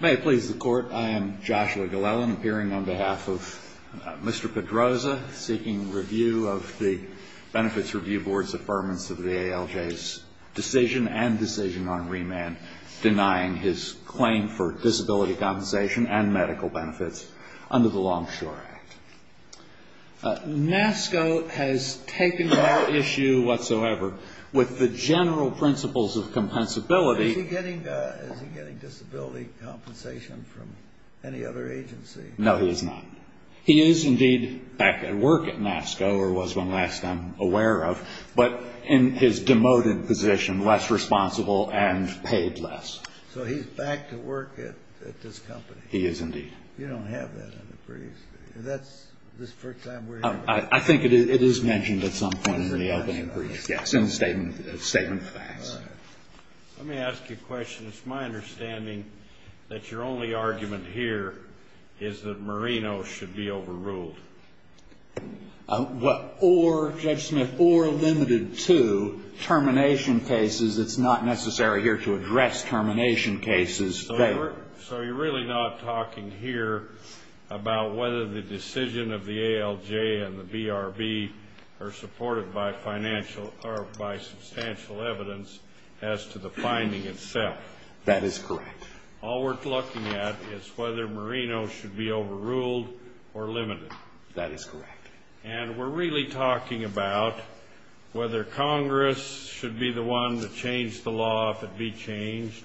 May it please the Court, I am Joshua Glellen, appearing on behalf of Mr. Pedroza, seeking review of the Benefits Review Board's affirmance of the ALJ's decision and decision on remand denying his claim for disability compensation and medical benefits under the Longshore Act. NASCO has taken no issue whatsoever with the general principles of compensability. Is he getting disability compensation from any other agency? No, he is not. He is indeed back at work at NASCO, or was when last I'm aware of, but in his demoted position, less responsible and paid less. So he's back to work at this company? He is indeed. You don't have that in the briefs? I think it is mentioned at some point in the opening brief, yes, in the statement of facts. Let me ask you a question. It's my understanding that your only argument here is that Marino should be overruled. Or, Judge Smith, or limited to termination cases. It's not necessary here to address termination cases. So you're really not talking here about whether the decision of the ALJ and the BRB are supported by substantial evidence as to the finding itself? That is correct. All we're looking at is whether Marino should be overruled or limited. That is correct. And we're really talking about whether Congress should be the one to change the law if it be changed,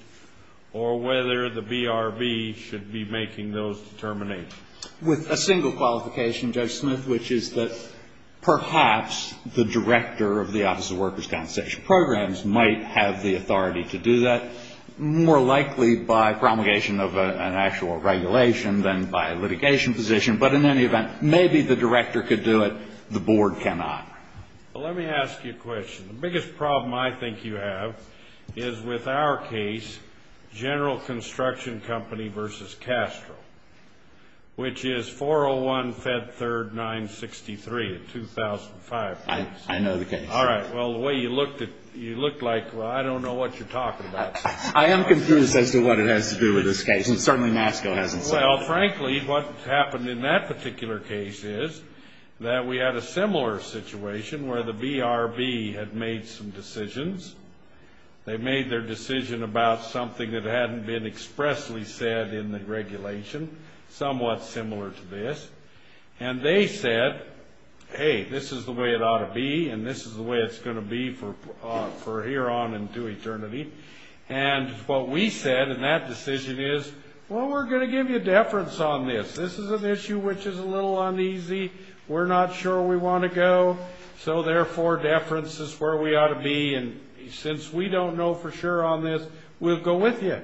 or whether the BRB should be making those determinations. With a single qualification, Judge Smith, which is that perhaps the director of the Office of Workers' Constitution Programs might have the authority to do that, more likely by promulgation of an actual regulation than by litigation position. But in any event, maybe the director could do it. The board cannot. Well, let me ask you a question. The biggest problem I think you have is with our case, General Construction Company v. Castro, which is 401-Fed-3rd-963-2005. I know the case. All right. Well, the way you looked at it, you looked like, well, I don't know what you're talking about. I am confused as to what it has to do with this case, and certainly Masco hasn't said that. Well, frankly, what happened in that particular case is that we had a similar situation where the BRB had made some decisions. They made their decision about something that hadn't been expressly said in the regulation, somewhat similar to this. And they said, hey, this is the way it ought to be, and this is the way it's going to be for hereon and to eternity. And what we said in that decision is, well, we're going to give you deference on this. This is an issue which is a little uneasy. We're not sure we want to go, so therefore, deference is where we ought to be. And since we don't know for sure on this, we'll go with you.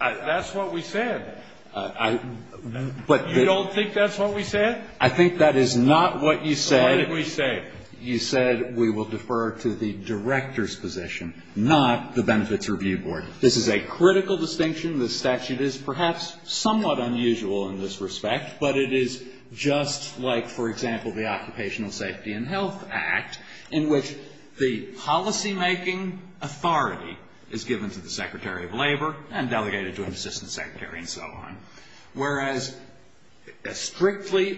That's what we said. You don't think that's what we said? I think that is not what you said. So what did we say? You said we will defer to the director's position, not the Benefits Review Board. This is a critical distinction. The statute is perhaps somewhat unusual in this respect, but it is just like, for example, the Occupational Safety and Health Act, in which the policymaking authority is given to the secretary of labor and delegated to an assistant secretary and so on, whereas a strictly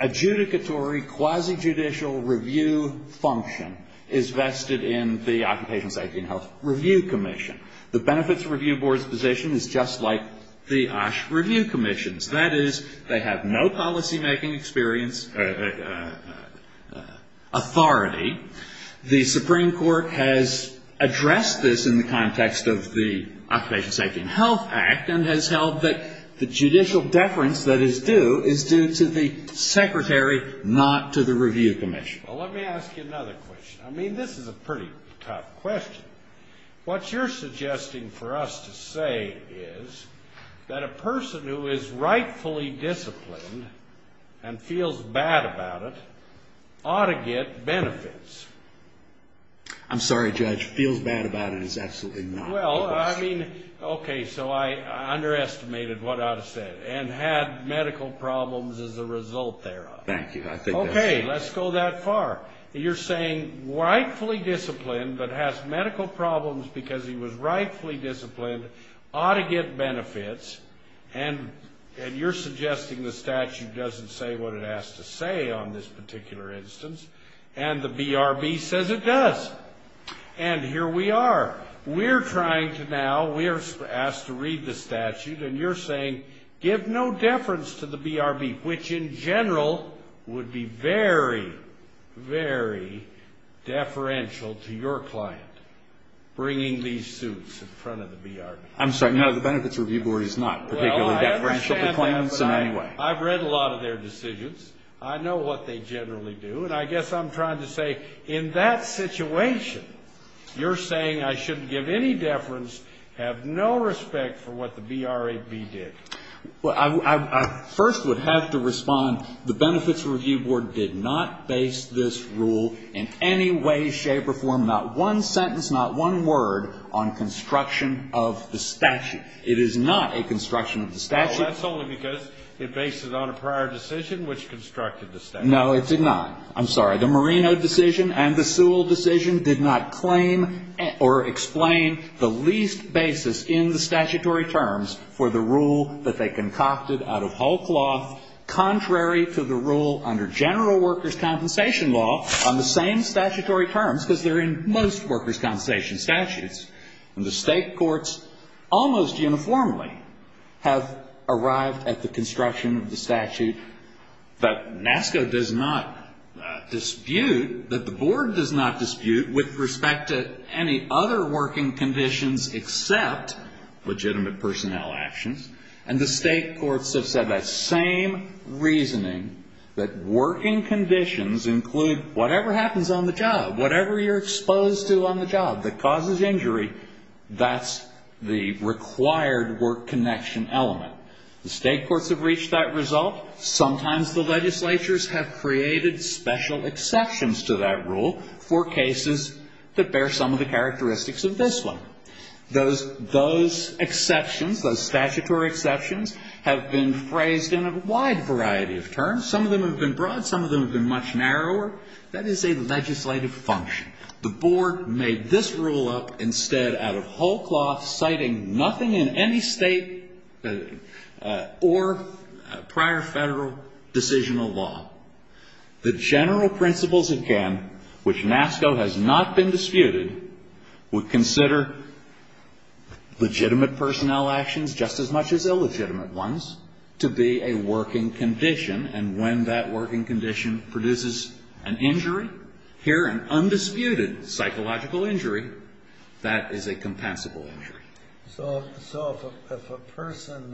adjudicatory quasi-judicial review function is vested in the Occupational Safety and Health Review Commission. The Benefits Review Board's position is just like the OSH Review Commission's. That is, they have no policymaking experience authority. The Supreme Court has addressed this in the context of the Occupational Safety and Health Act and has held that the judicial deference that is due is due to the secretary, not to the review commission. Well, let me ask you another question. I mean, this is a pretty tough question. What you're suggesting for us to say is that a person who is rightfully disciplined and feels bad about it ought to get benefits. I'm sorry, Judge. Feels bad about it is absolutely not. Well, I mean, okay, so I underestimated what I would have said and had medical problems as a result thereof. Thank you. Okay, let's go that far. You're saying rightfully disciplined but has medical problems because he was rightfully disciplined ought to get benefits, and you're suggesting the statute doesn't say what it has to say on this particular instance, and the BRB says it does. And here we are. We're trying to now, we are asked to read the statute, and you're saying give no deference to the BRB, which in general would be very, very deferential to your client bringing these suits in front of the BRB. I'm sorry. No, the Benefits Review Board is not particularly deferential to claims in any way. Well, I understand that, but I've read a lot of their decisions. I know what they generally do, and I guess I'm trying to say in that situation you're saying I shouldn't give any deference, have no respect for what the BRB did. Well, I first would have to respond the Benefits Review Board did not base this rule in any way, shape or form, not one sentence, not one word on construction of the statute. It is not a construction of the statute. Well, that's only because it bases it on a prior decision which constructed the statute. No, it did not. I'm sorry. The Marino decision and the Sewell decision did not claim or explain the least basis in the statutory terms for the rule that they concocted out of hulk cloth contrary to the rule under general workers' compensation law on the same statutory terms, because they're in most workers' compensation statutes. And the state courts almost uniformly have arrived at the construction of the statute that NASCA does not dispute, that the board does not dispute with respect to any other working conditions except legitimate personnel actions. And the state courts have said that same reasoning, that working conditions include whatever happens on the job, whatever you're exposed to on the job that causes injury, that's the required work connection element. The state courts have reached that result. Sometimes the legislatures have created special exceptions to that rule for cases that bear some of the characteristics of this one. Those exceptions, those statutory exceptions, have been phrased in a wide variety of terms. Some of them have been broad. Some of them have been much narrower. That is a legislative function. The board made this rule up instead out of hulk cloth, citing nothing in any state or prior Federal decisional law. The general principles, again, which NASCA has not been disputed, would consider legitimate personnel actions just as much as Here, an undisputed psychological injury, that is a compensable injury. So if a person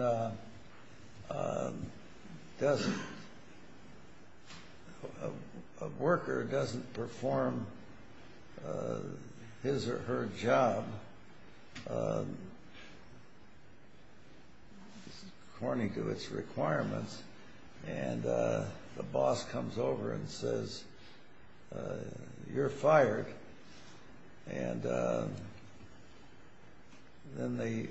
doesn't, a worker doesn't perform his or her job according to its requirements, and the boss comes over and says, you're fired, and then the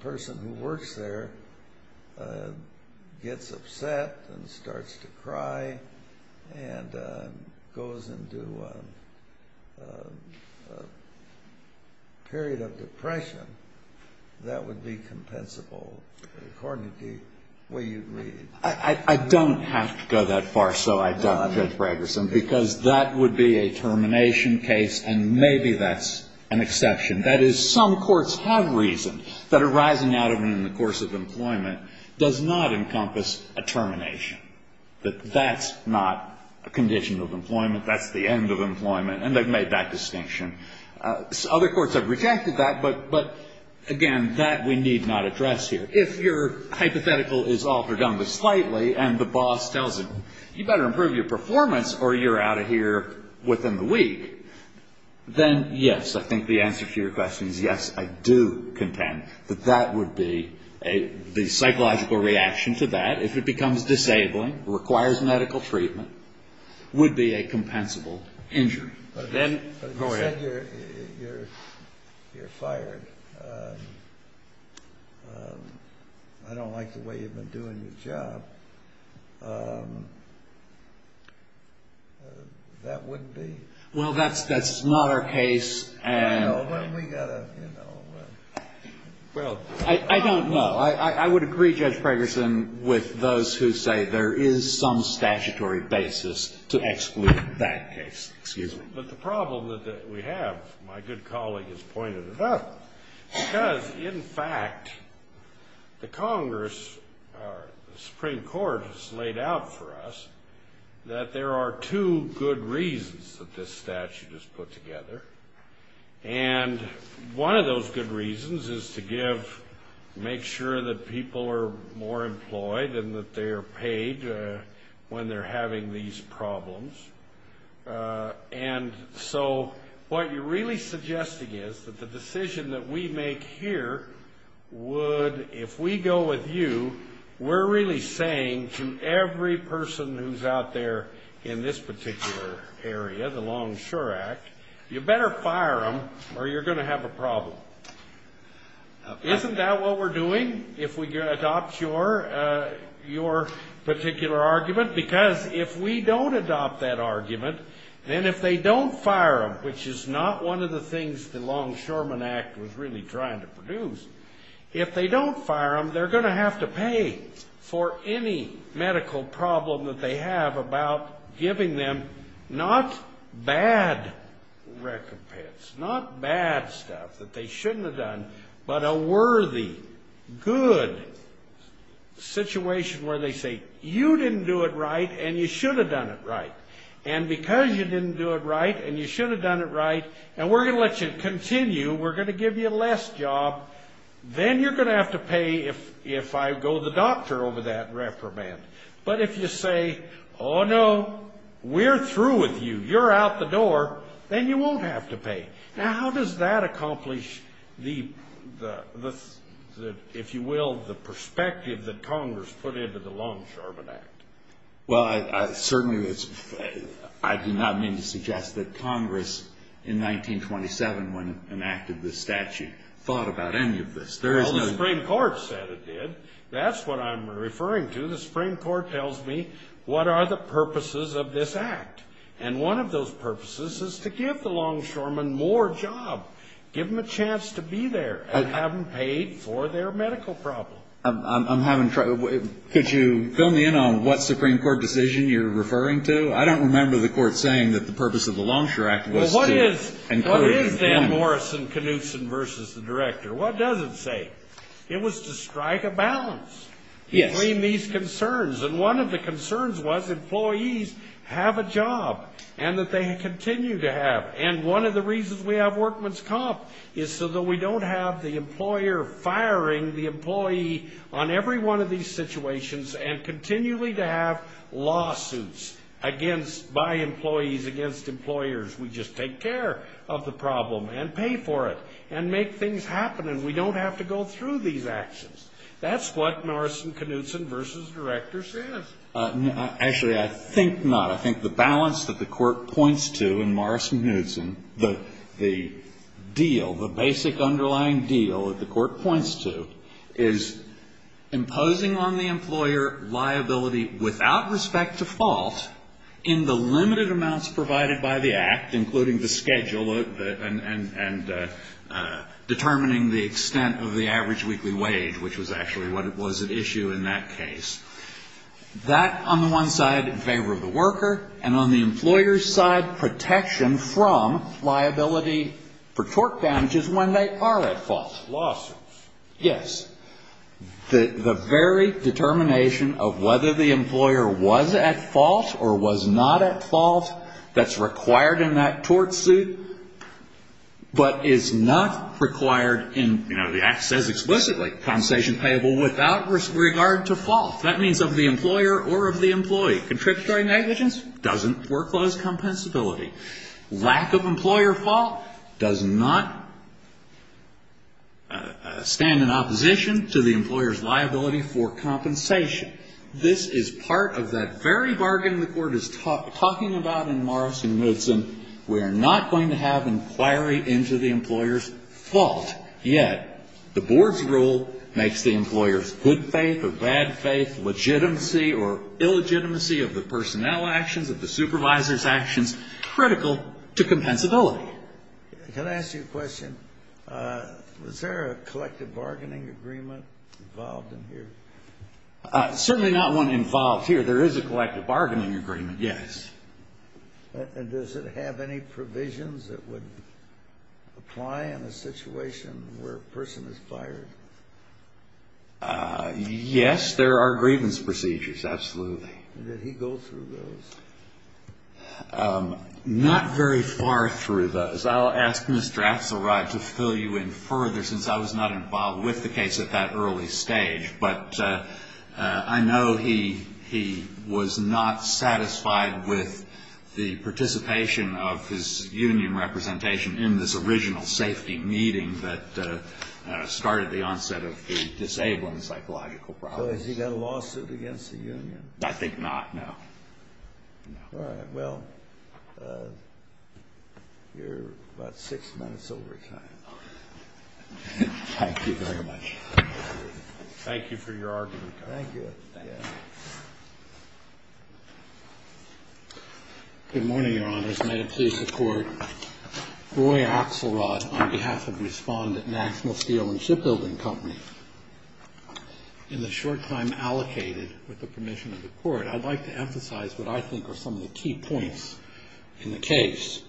person who works there gets upset and starts to cry and goes into a period of depression, that would be compensable according to the way you read. I don't have to go that far, Judge Braggerson, because that would be a termination case, and maybe that's an exception. That is, some courts have reasoned that a rising adamant in the course of employment does not encompass a termination, that that's not a condition of employment, that's the end of employment, and they've made that distinction. Other courts have rejected that, but, again, that we need not address here. If your hypothetical is altered on the slightly and the boss tells him, you better improve your performance or you're out of here within the week, then, yes, I think the answer to your question is yes, I do contend that that would be a psychological reaction to that. If it becomes disabling, requires medical treatment, would be a compensable injury. But if you said you're fired, I don't like the way you've been doing your job, that wouldn't be? Well, that's not our case. Well, we've got to, you know. Well, I don't know. I would agree, Judge Braggerson, with those who say there is some statutory basis to exclude that case. Excuse me. But the problem that we have, my good colleague has pointed it out, because, in fact, the Congress or the Supreme Court has laid out for us that there are two good reasons that this statute is put together. And one of those good reasons is to give, make sure that people are more employed and that they are paid when they're having these problems. And so what you're really suggesting is that the decision that we make here would, if we go with you, we're really saying to every person who's out there in this particular area, the Longshore Act, you better fire them or you're going to have a problem. Isn't that what we're doing if we adopt your particular argument? Because if we don't adopt that argument, then if they don't fire them, which is not one of the things the Longshoremen Act was really trying to produce, if they don't fire them, they're going to have to pay for any medical problem that they have about giving them not bad recompense, not bad stuff that they shouldn't have done, but a worthy, good situation where they say, you didn't do it right and you should have done it right. And because you didn't do it right and you should have done it right, and we're going to let you continue, we're going to give you less job, then you're going to have to pay if I go to the doctor over that reprimand. But if you say, oh, no, we're through with you, you're out the door, then you won't have to pay. Now, how does that accomplish the, if you will, the perspective that Congress put into the Longshoremen Act? Well, I certainly, I do not mean to suggest that Congress in 1927, when it enacted this statute, thought about any of this. Well, the Supreme Court said it did. That's what I'm referring to. The Supreme Court tells me what are the purposes of this act. And one of those purposes is to give the longshoremen more job, give them a chance to be there, and have them paid for their medical problem. I'm having trouble. Could you fill me in on what Supreme Court decision you're referring to? I don't remember the Court saying that the purpose of the Longshore Act was to encourage employment. Well, what is Dan Morrison-Knudsen versus the director? What does it say? It was to strike a balance between these concerns. And one of the concerns was employees have a job and that they continue to have. And one of the reasons we have workman's comp is so that we don't have the employer firing the employee on every one of these situations and continually to have lawsuits by employees against employers. We just take care of the problem and pay for it and make things happen, and we don't have to go through these actions. That's what Morrison-Knudsen versus the director says. Actually, I think not. I think the balance that the Court points to in Morrison-Knudsen, the deal, the basic underlying deal that the Court points to, is imposing on the employer liability without respect to fault in the limited amounts provided by the Act, including the schedule and determining the extent of the average weekly wage, which was actually what was at issue in that case. That, on the one side, in favor of the worker, and on the employer's side, protection from liability for tort damages when they are at fault. Lawsuits. Yes. The very determination of whether the employer was at fault or was not at fault, that's required in that tort suit, but is not required in, you know, The Act says explicitly compensation payable without regard to fault. That means of the employer or of the employee. Contributory negligence doesn't foreclose compensability. Lack of employer fault does not stand in opposition to the employer's liability for compensation. This is part of that very bargain the Court is talking about in Morrison-Knudsen. We are not going to have inquiry into the employer's fault yet. The Board's rule makes the employer's good faith or bad faith, legitimacy or illegitimacy of the personnel actions, of the supervisor's actions, critical to compensability. Can I ask you a question? Was there a collective bargaining agreement involved in here? Certainly not one involved here. There is a collective bargaining agreement, yes. And does it have any provisions that would apply in a situation where a person is fired? Yes, there are grievance procedures, absolutely. Did he go through those? Not very far through those. I'll ask Mr. Axelrod to fill you in further since I was not involved with the case at that early stage. But I know he was not satisfied with the participation of his union representation in this original safety meeting that started the onset of the disabled and psychological problems. So has he got a lawsuit against the union? I think not, no. All right. Well, you're about six minutes overtime. Thank you very much. Thank you for your argument. Thank you. Good morning, Your Honors. May it please the Court. Roy Axelrod on behalf of Respondent National Steel and Shipbuilding Company. In the short time allocated with the permission of the Court, I'd like to emphasize what I think are some of the key points in the case.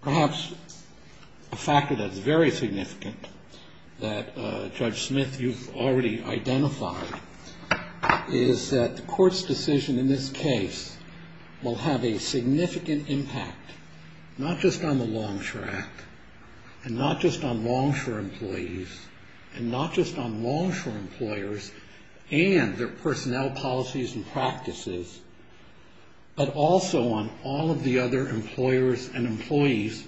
Perhaps a factor that is very significant that, Judge Smith, you've already identified, is that the Court's decision in this case will have a significant impact, not just on the Longshore Act and not just on Longshore employees and not just on Longshore employers and their personnel policies and practices, but also on all of the other employers and employees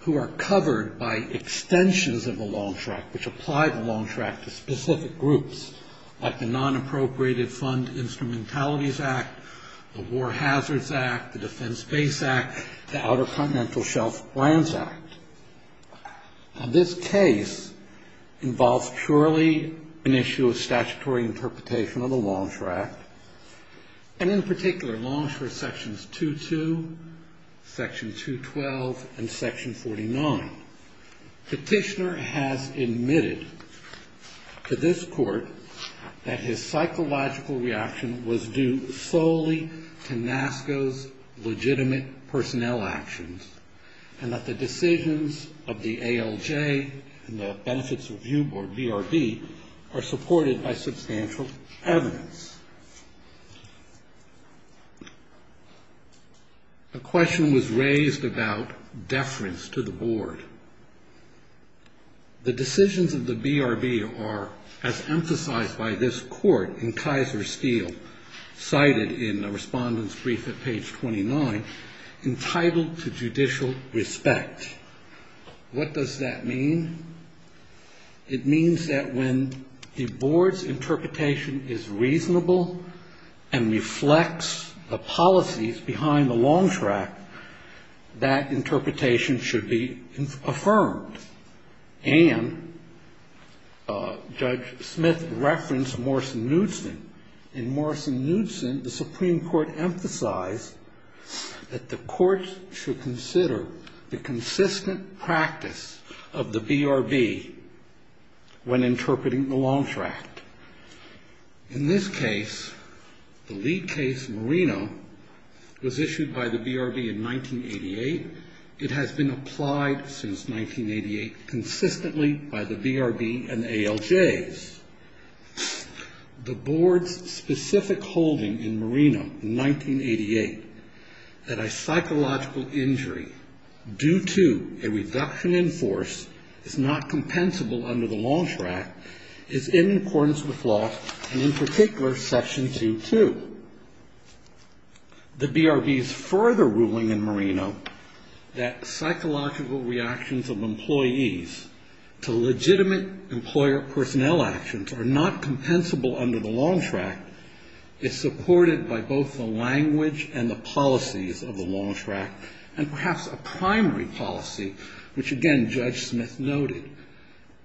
who are covered by extensions of the Longshore Act, which apply the Longshore Act to specific groups, like the Nonappropriated Fund Instrumentalities Act, the War Hazards Act, the Defense Base Act, the Outer Continental Shelf Grants Act. This case involves purely an issue of statutory interpretation of the Longshore Act and, in particular, Longshore Sections 2-2, Section 2-12, and Section 49. Petitioner has admitted to this Court that his psychological reaction was due solely to NASCO's legitimate personnel actions and that the decisions of the ALJ and the Benefits Review Board, BRB, are supported by substantial evidence. A question was raised about deference to the Board. The decisions of the BRB are, as emphasized by this Court in Kaiser Steel, cited in a Respondent's Brief at page 29, entitled to judicial respect. What does that mean? It means that when the Board's interpretation is reasonable and reflects the policies behind the long track, that interpretation should be affirmed. And Judge Smith referenced Morrison-Knudson. In Morrison-Knudson, the Supreme Court emphasized that the Court should consider the consistent practice of the BRB when interpreting the Longshore Act. In this case, the lead case, Moreno, was issued by the BRB in 1988. It has been applied since 1988 consistently by the BRB and ALJs. The Board's specific holding in Moreno in 1988 that a psychological injury due to a reduction in force is not compensable under the Longshore Act is in accordance with law and, in particular, Section 2.2. The BRB's further ruling in Moreno that psychological reactions of employees to legitimate employer personnel actions are not compensable under the Longshore Act is supported by both the language and the policies of the Longshore Act, and perhaps a primary policy, which, again, Judge Smith noted,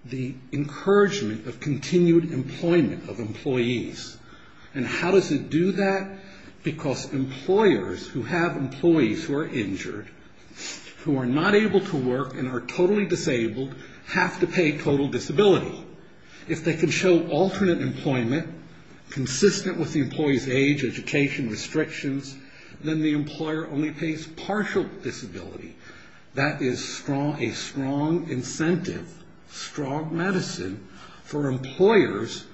the encouragement of continued employment of employees. And how does it do that? Because employers who have employees who are injured, who are not able to work and are totally disabled, have to pay total disability. If they can show alternate employment consistent with the employee's age, education, restrictions, then the employer only pays partial disability. That is a strong incentive, strong medicine for employers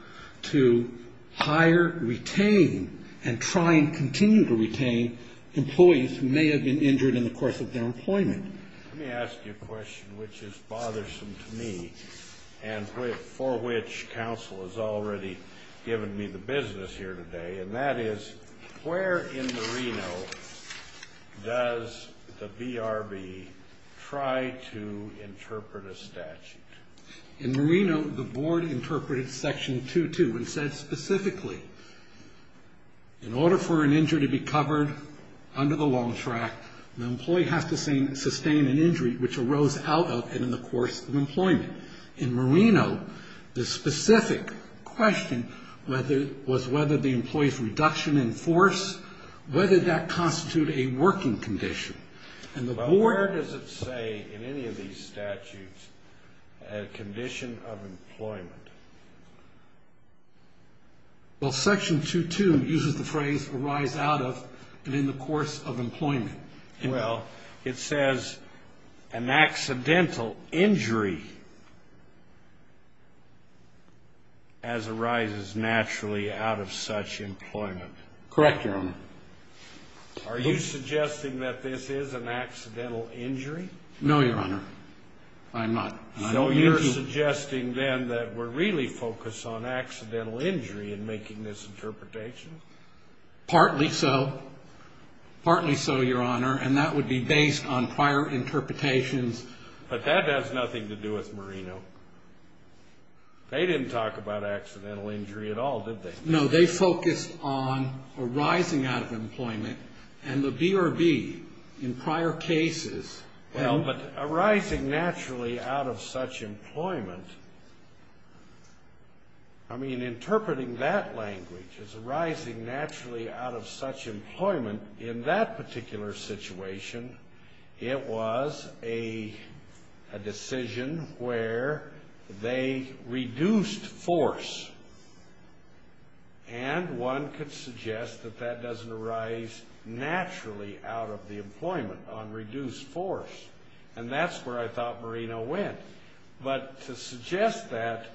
to hire, retain, and try and continue to retain employees who may have been injured in the course of their employment. Let me ask you a question which is bothersome to me and for which counsel has already given me the business here today, and that is where in Moreno does the BRB try to interpret a statute? In Moreno, the board interpreted Section 2.2 and said specifically, in order for an injury to be covered under the Longshore Act, the employee has to sustain an injury which arose out of and in the course of employment. In Moreno, the specific question was whether the employee's reduction in force, whether that constituted a working condition. Well, where does it say in any of these statutes a condition of employment? Well, Section 2.2 uses the phrase arise out of and in the course of employment. Well, it says an accidental injury as arises naturally out of such employment. Correct, Your Honor. Are you suggesting that this is an accidental injury? No, Your Honor, I'm not. So you're suggesting then that we're really focused on accidental injury in making this interpretation? Partly so. Partly so, Your Honor, and that would be based on prior interpretations. But that has nothing to do with Moreno. They didn't talk about accidental injury at all, did they? No, they focused on arising out of employment and the BRB in prior cases. Well, but arising naturally out of such employment, I mean, interpreting that language as arising naturally out of such employment, in that particular situation, it was a decision where they reduced force. And one could suggest that that doesn't arise naturally out of the employment, on reduced force. And that's where I thought Moreno went. But to suggest that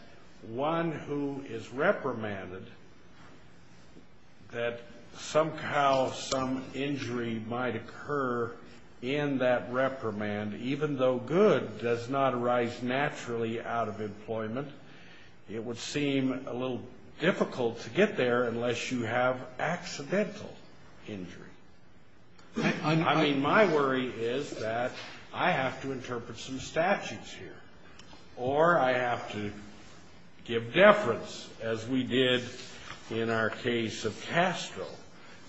one who is reprimanded, that somehow some injury might occur in that reprimand, even though good does not arise naturally out of employment, it would seem a little difficult to get there unless you have accidental injury. I mean, my worry is that I have to interpret some statutes here, or I have to give deference, as we did in our case of Castro.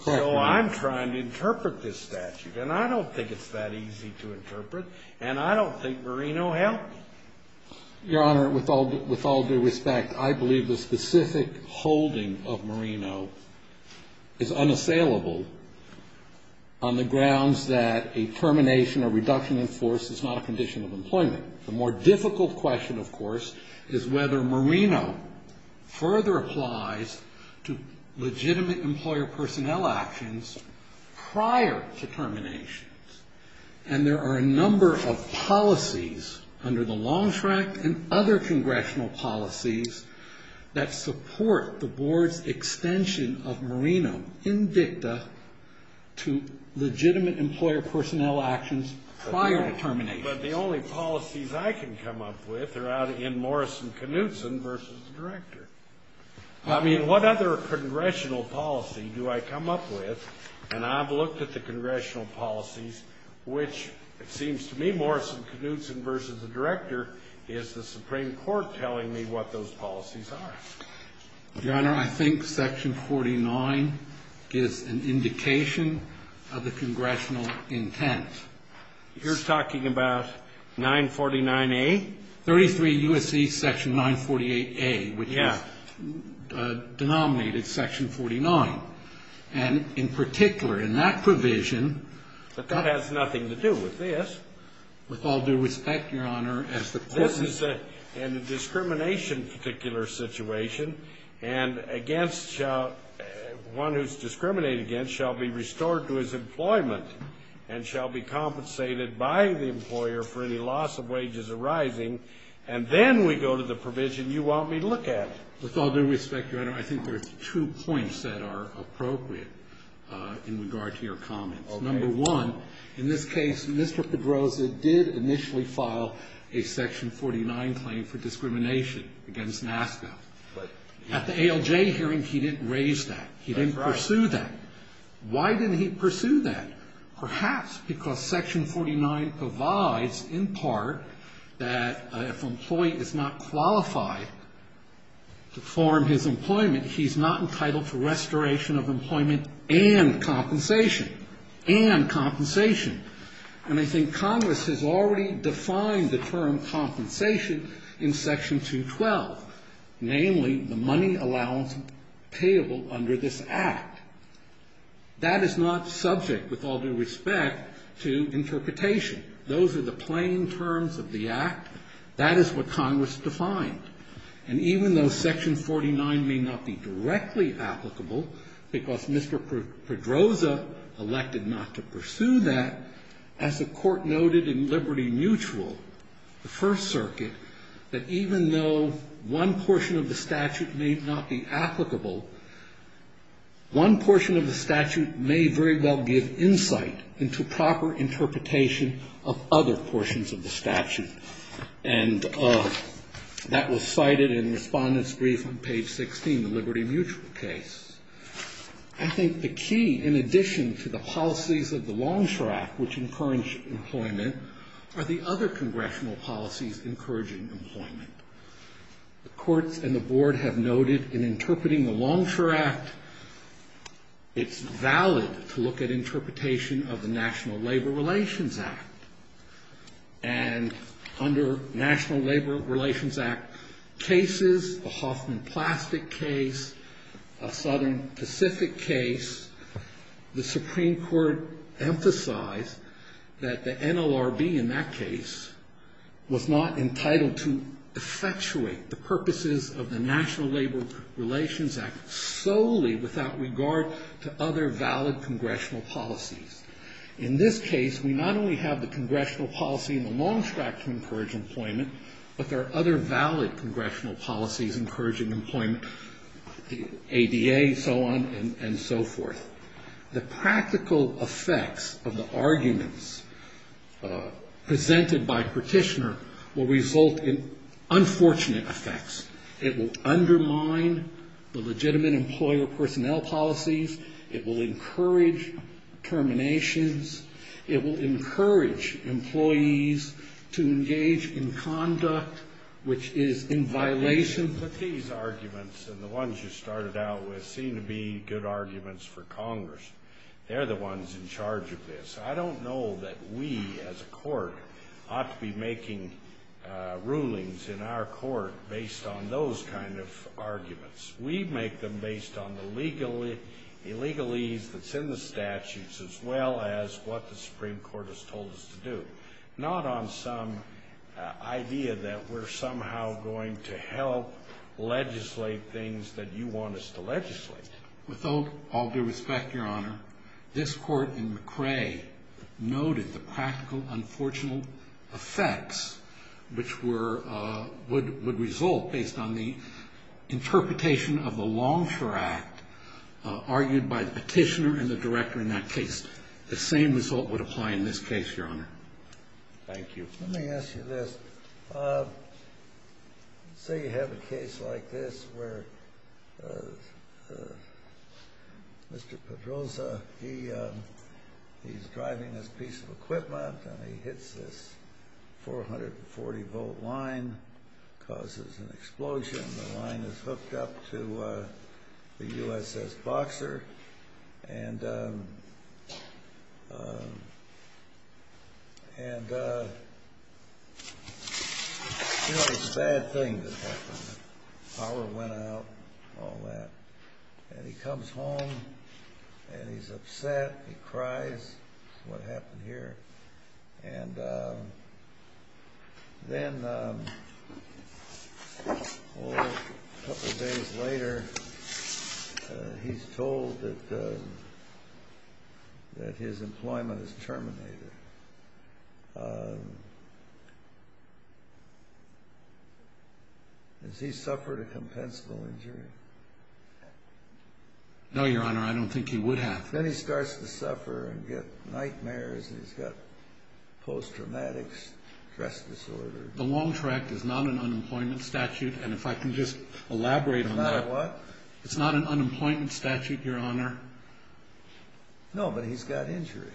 So I'm trying to interpret this statute, and I don't think it's that easy to interpret, and I don't think Moreno helped. Your Honor, with all due respect, I believe the specific holding of Moreno is unassailable on the grounds that a termination or reduction in force is not a condition of employment. The more difficult question, of course, is whether Moreno further applies to legitimate employer personnel actions prior to terminations. And there are a number of policies under the Longstrike and other congressional policies that support the Board's extension of Moreno in dicta to legitimate employer personnel actions prior to terminations. But the only policies I can come up with are out in Morrison-Knudsen v. the Director. I mean, what other congressional policy do I come up with? And I've looked at the congressional policies, which it seems to me Morrison-Knudsen v. the Director is the Supreme Court telling me what those policies are. Your Honor, I think Section 49 is an indication of the congressional intent. You're talking about 949A? 33 U.S.C. Section 948A, which is denominated Section 49. And in particular, in that provision... But that has nothing to do with this. With all due respect, Your Honor, as the court... This is in a discrimination particular situation, and one who's discriminated against shall be restored to his employment and shall be compensated by the employer for any loss of wages arising, and then we go to the provision you want me to look at. With all due respect, Your Honor, I think there are two points that are appropriate in regard to your comments. Okay. Number one, in this case, Mr. Pedroza did initially file a Section 49 claim for discrimination against NASCA. But... At the ALJ hearing, he didn't raise that. That's right. He didn't pursue that. Why didn't he pursue that? Perhaps because Section 49 provides, in part, that if an employee is not qualified to form his employment, he's not entitled to restoration of employment and compensation. And compensation. And I think Congress has already defined the term compensation in Section 212, namely the money allowance payable under this Act. That is not subject, with all due respect, to interpretation. Those are the plain terms of the Act. That is what Congress defined. And even though Section 49 may not be directly applicable, because Mr. Pedroza elected not to pursue that, as the court noted in Liberty Mutual, the First Circuit, that even though one portion of the statute may not be applicable, one portion of the statute may very well give insight into proper interpretation of other portions of the statute. And that was cited in Respondent's Brief on page 16, the Liberty Mutual case. I think the key, in addition to the policies of the Longstrap, which encourage employment, are the other congressional policies encouraging employment. The courts and the board have noted in interpreting the Longstrap Act, it's valid to look at interpretation of the National Labor Relations Act. And under National Labor Relations Act cases, the Hoffman Plastic case, a Southern Pacific case, the Supreme Court emphasized that the NLRB in that case was not entitled to effectuate the purposes of the National Labor Relations Act solely without regard to other valid congressional policies. In this case, we not only have the congressional policy in the Longstrap to encourage employment, but there are other valid congressional policies encouraging employment, ADA, so on and so forth. The practical effects of the arguments presented by Petitioner will result in unfortunate effects. It will undermine the legitimate employer personnel policies. It will encourage terminations. It will encourage employees to engage in conduct which is in violation. But these arguments and the ones you started out with seem to be good arguments for Congress. They're the ones in charge of this. I don't know that we as a court ought to be making rulings in our court based on those kind of arguments. We make them based on the legalese that's in the statutes as well as what the Supreme Court has told us to do, not on some idea that we're somehow going to help legislate things that you want us to legislate. With all due respect, Your Honor, this court in McRae noted the practical, unfortunate effects which would result based on the interpretation of the Longstrap Act argued by the Petitioner and the Director in that case. The same result would apply in this case, Your Honor. Thank you. Let me ask you this. Say you have a case like this where Mr. Pedroza, he's driving his piece of equipment and he hits this 440-volt line, causes an explosion. The line is hooked up to the USS Boxer. And, you know, it's a bad thing that happened. Power went out and all that. And he comes home and he's upset. He cries. This is what happened here. And then a couple days later he's told that his employment is terminated. Has he suffered a compensable injury? No, Your Honor. I don't think he would have. Then he starts to suffer and get nightmares. He's got post-traumatic stress disorder. The Longstrap Act is not an unemployment statute. And if I can just elaborate on that. It's not a what? It's not an unemployment statute, Your Honor. No, but he's got injury.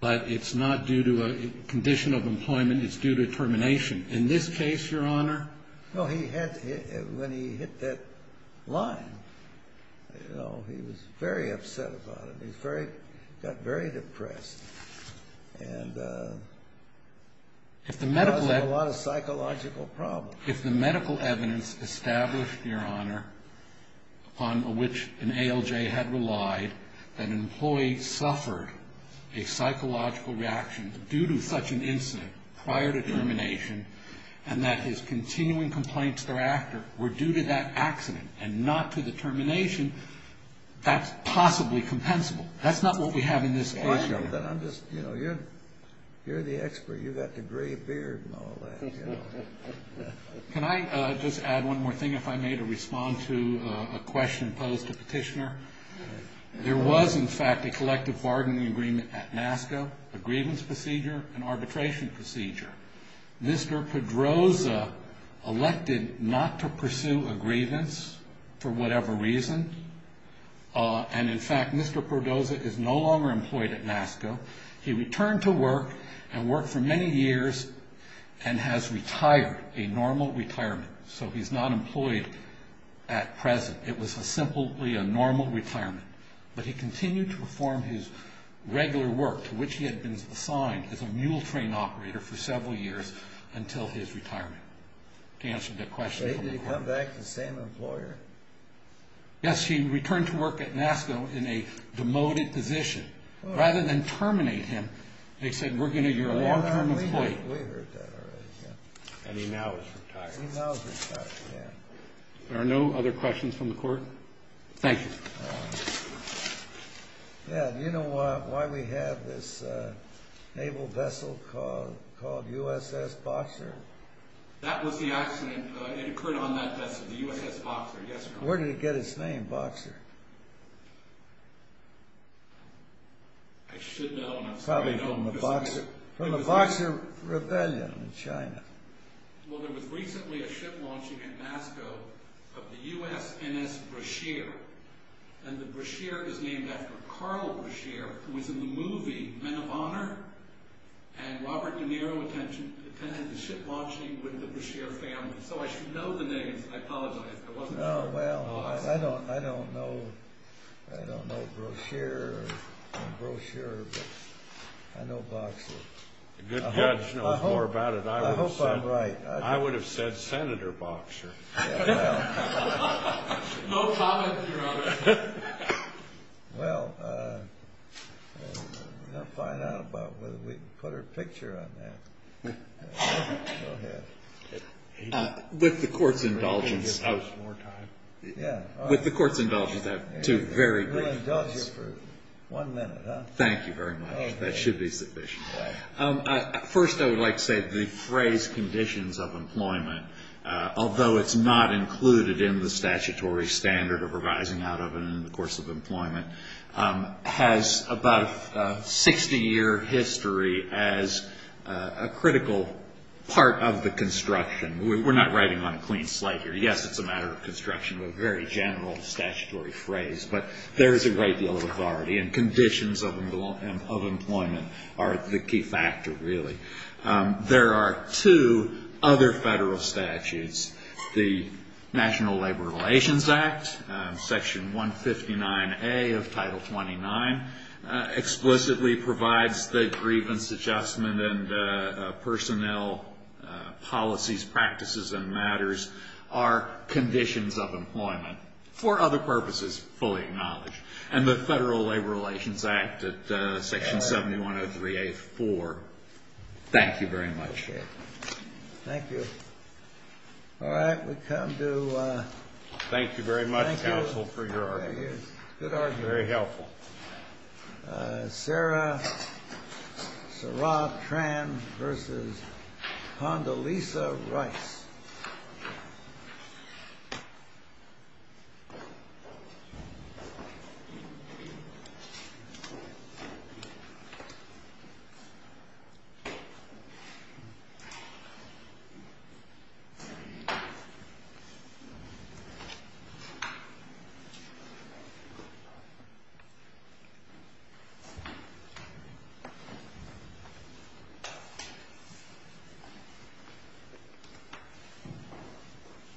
But it's not due to a condition of employment. It's due to termination. In this case, Your Honor. No, when he hit that line, you know, he was very upset about it. He got very depressed. And caused him a lot of psychological problems. If the medical evidence established, Your Honor, upon which an ALJ had relied, that an employee suffered a psychological reaction due to such an incident prior to termination and that his continuing complaints thereafter were due to that accident and not to the termination, that's possibly compensable. That's not what we have in this case. But I'm just, you know, you're the expert. You've got the gray beard and all that, you know. Can I just add one more thing, if I may, to respond to a question posed to Petitioner? There was, in fact, a collective bargaining agreement at NASCO, a grievance procedure, an arbitration procedure. Mr. Pedroza elected not to pursue a grievance for whatever reason. And, in fact, Mr. Pedroza is no longer employed at NASCO. He returned to work and worked for many years and has retired, a normal retirement. So he's not employed at present. It was simply a normal retirement. But he continued to perform his regular work to which he had been assigned as a mule train operator for several years until his retirement. To answer the question from the court. Wait, did he come back the same employer? Yes, he returned to work at NASCO in a demoted position. Rather than terminate him, they said, we're going to, you're a long-term employee. We heard that already, yeah. And he now has retired. He now has retired, yeah. There are no other questions from the court? Thank you. Yeah, do you know why we have this naval vessel called USS Boxer? That was the accident. It occurred on that vessel, the USS Boxer. Yes, Your Honor. Where did it get its name, Boxer? I should know, and I'm sorry I don't. Probably from the Boxer Rebellion in China. Well, there was recently a ship launching at NASCO of the USNS Brashear. And the Brashear is named after Carl Brashear, who was in the movie Men of Honor. And Robert De Niro attended the ship launching with the Brashear family. So I should know the names. I apologize. I wasn't sure. Well, I don't know. I don't know Brashear or brochure, but I know Boxer. A good judge knows more about it. I hope I'm right. I would have said Senator Boxer. No comment, Your Honor. Well, we're going to find out about whether we can put our picture on that. Go ahead. With the court's indulgence, I have two very brief questions. We'll indulge you for one minute, huh? Thank you very much. That should be sufficient. First, I would like to say the phrase conditions of employment, although it's not included in the statutory standard of revising out of it in the course of employment, has about a 60-year history as a critical part of the construction. We're not writing on a clean slate here. Yes, it's a matter of construction, but a very general statutory phrase. But there is a great deal of authority, and conditions of employment are the key factor, really. There are two other federal statutes. The National Labor Relations Act, Section 159A of Title 29, explicitly provides that grievance adjustment and personnel policies, practices, and matters are conditions of employment, for other purposes fully acknowledged. And the Federal Labor Relations Act at Section 7103A-4. Thank you very much. Thank you. All right, we come to ‑‑ Thank you very much, counsel, for your argument. Good argument. Very helpful. Sarah Tran versus Condoleezza Rice. Thank you.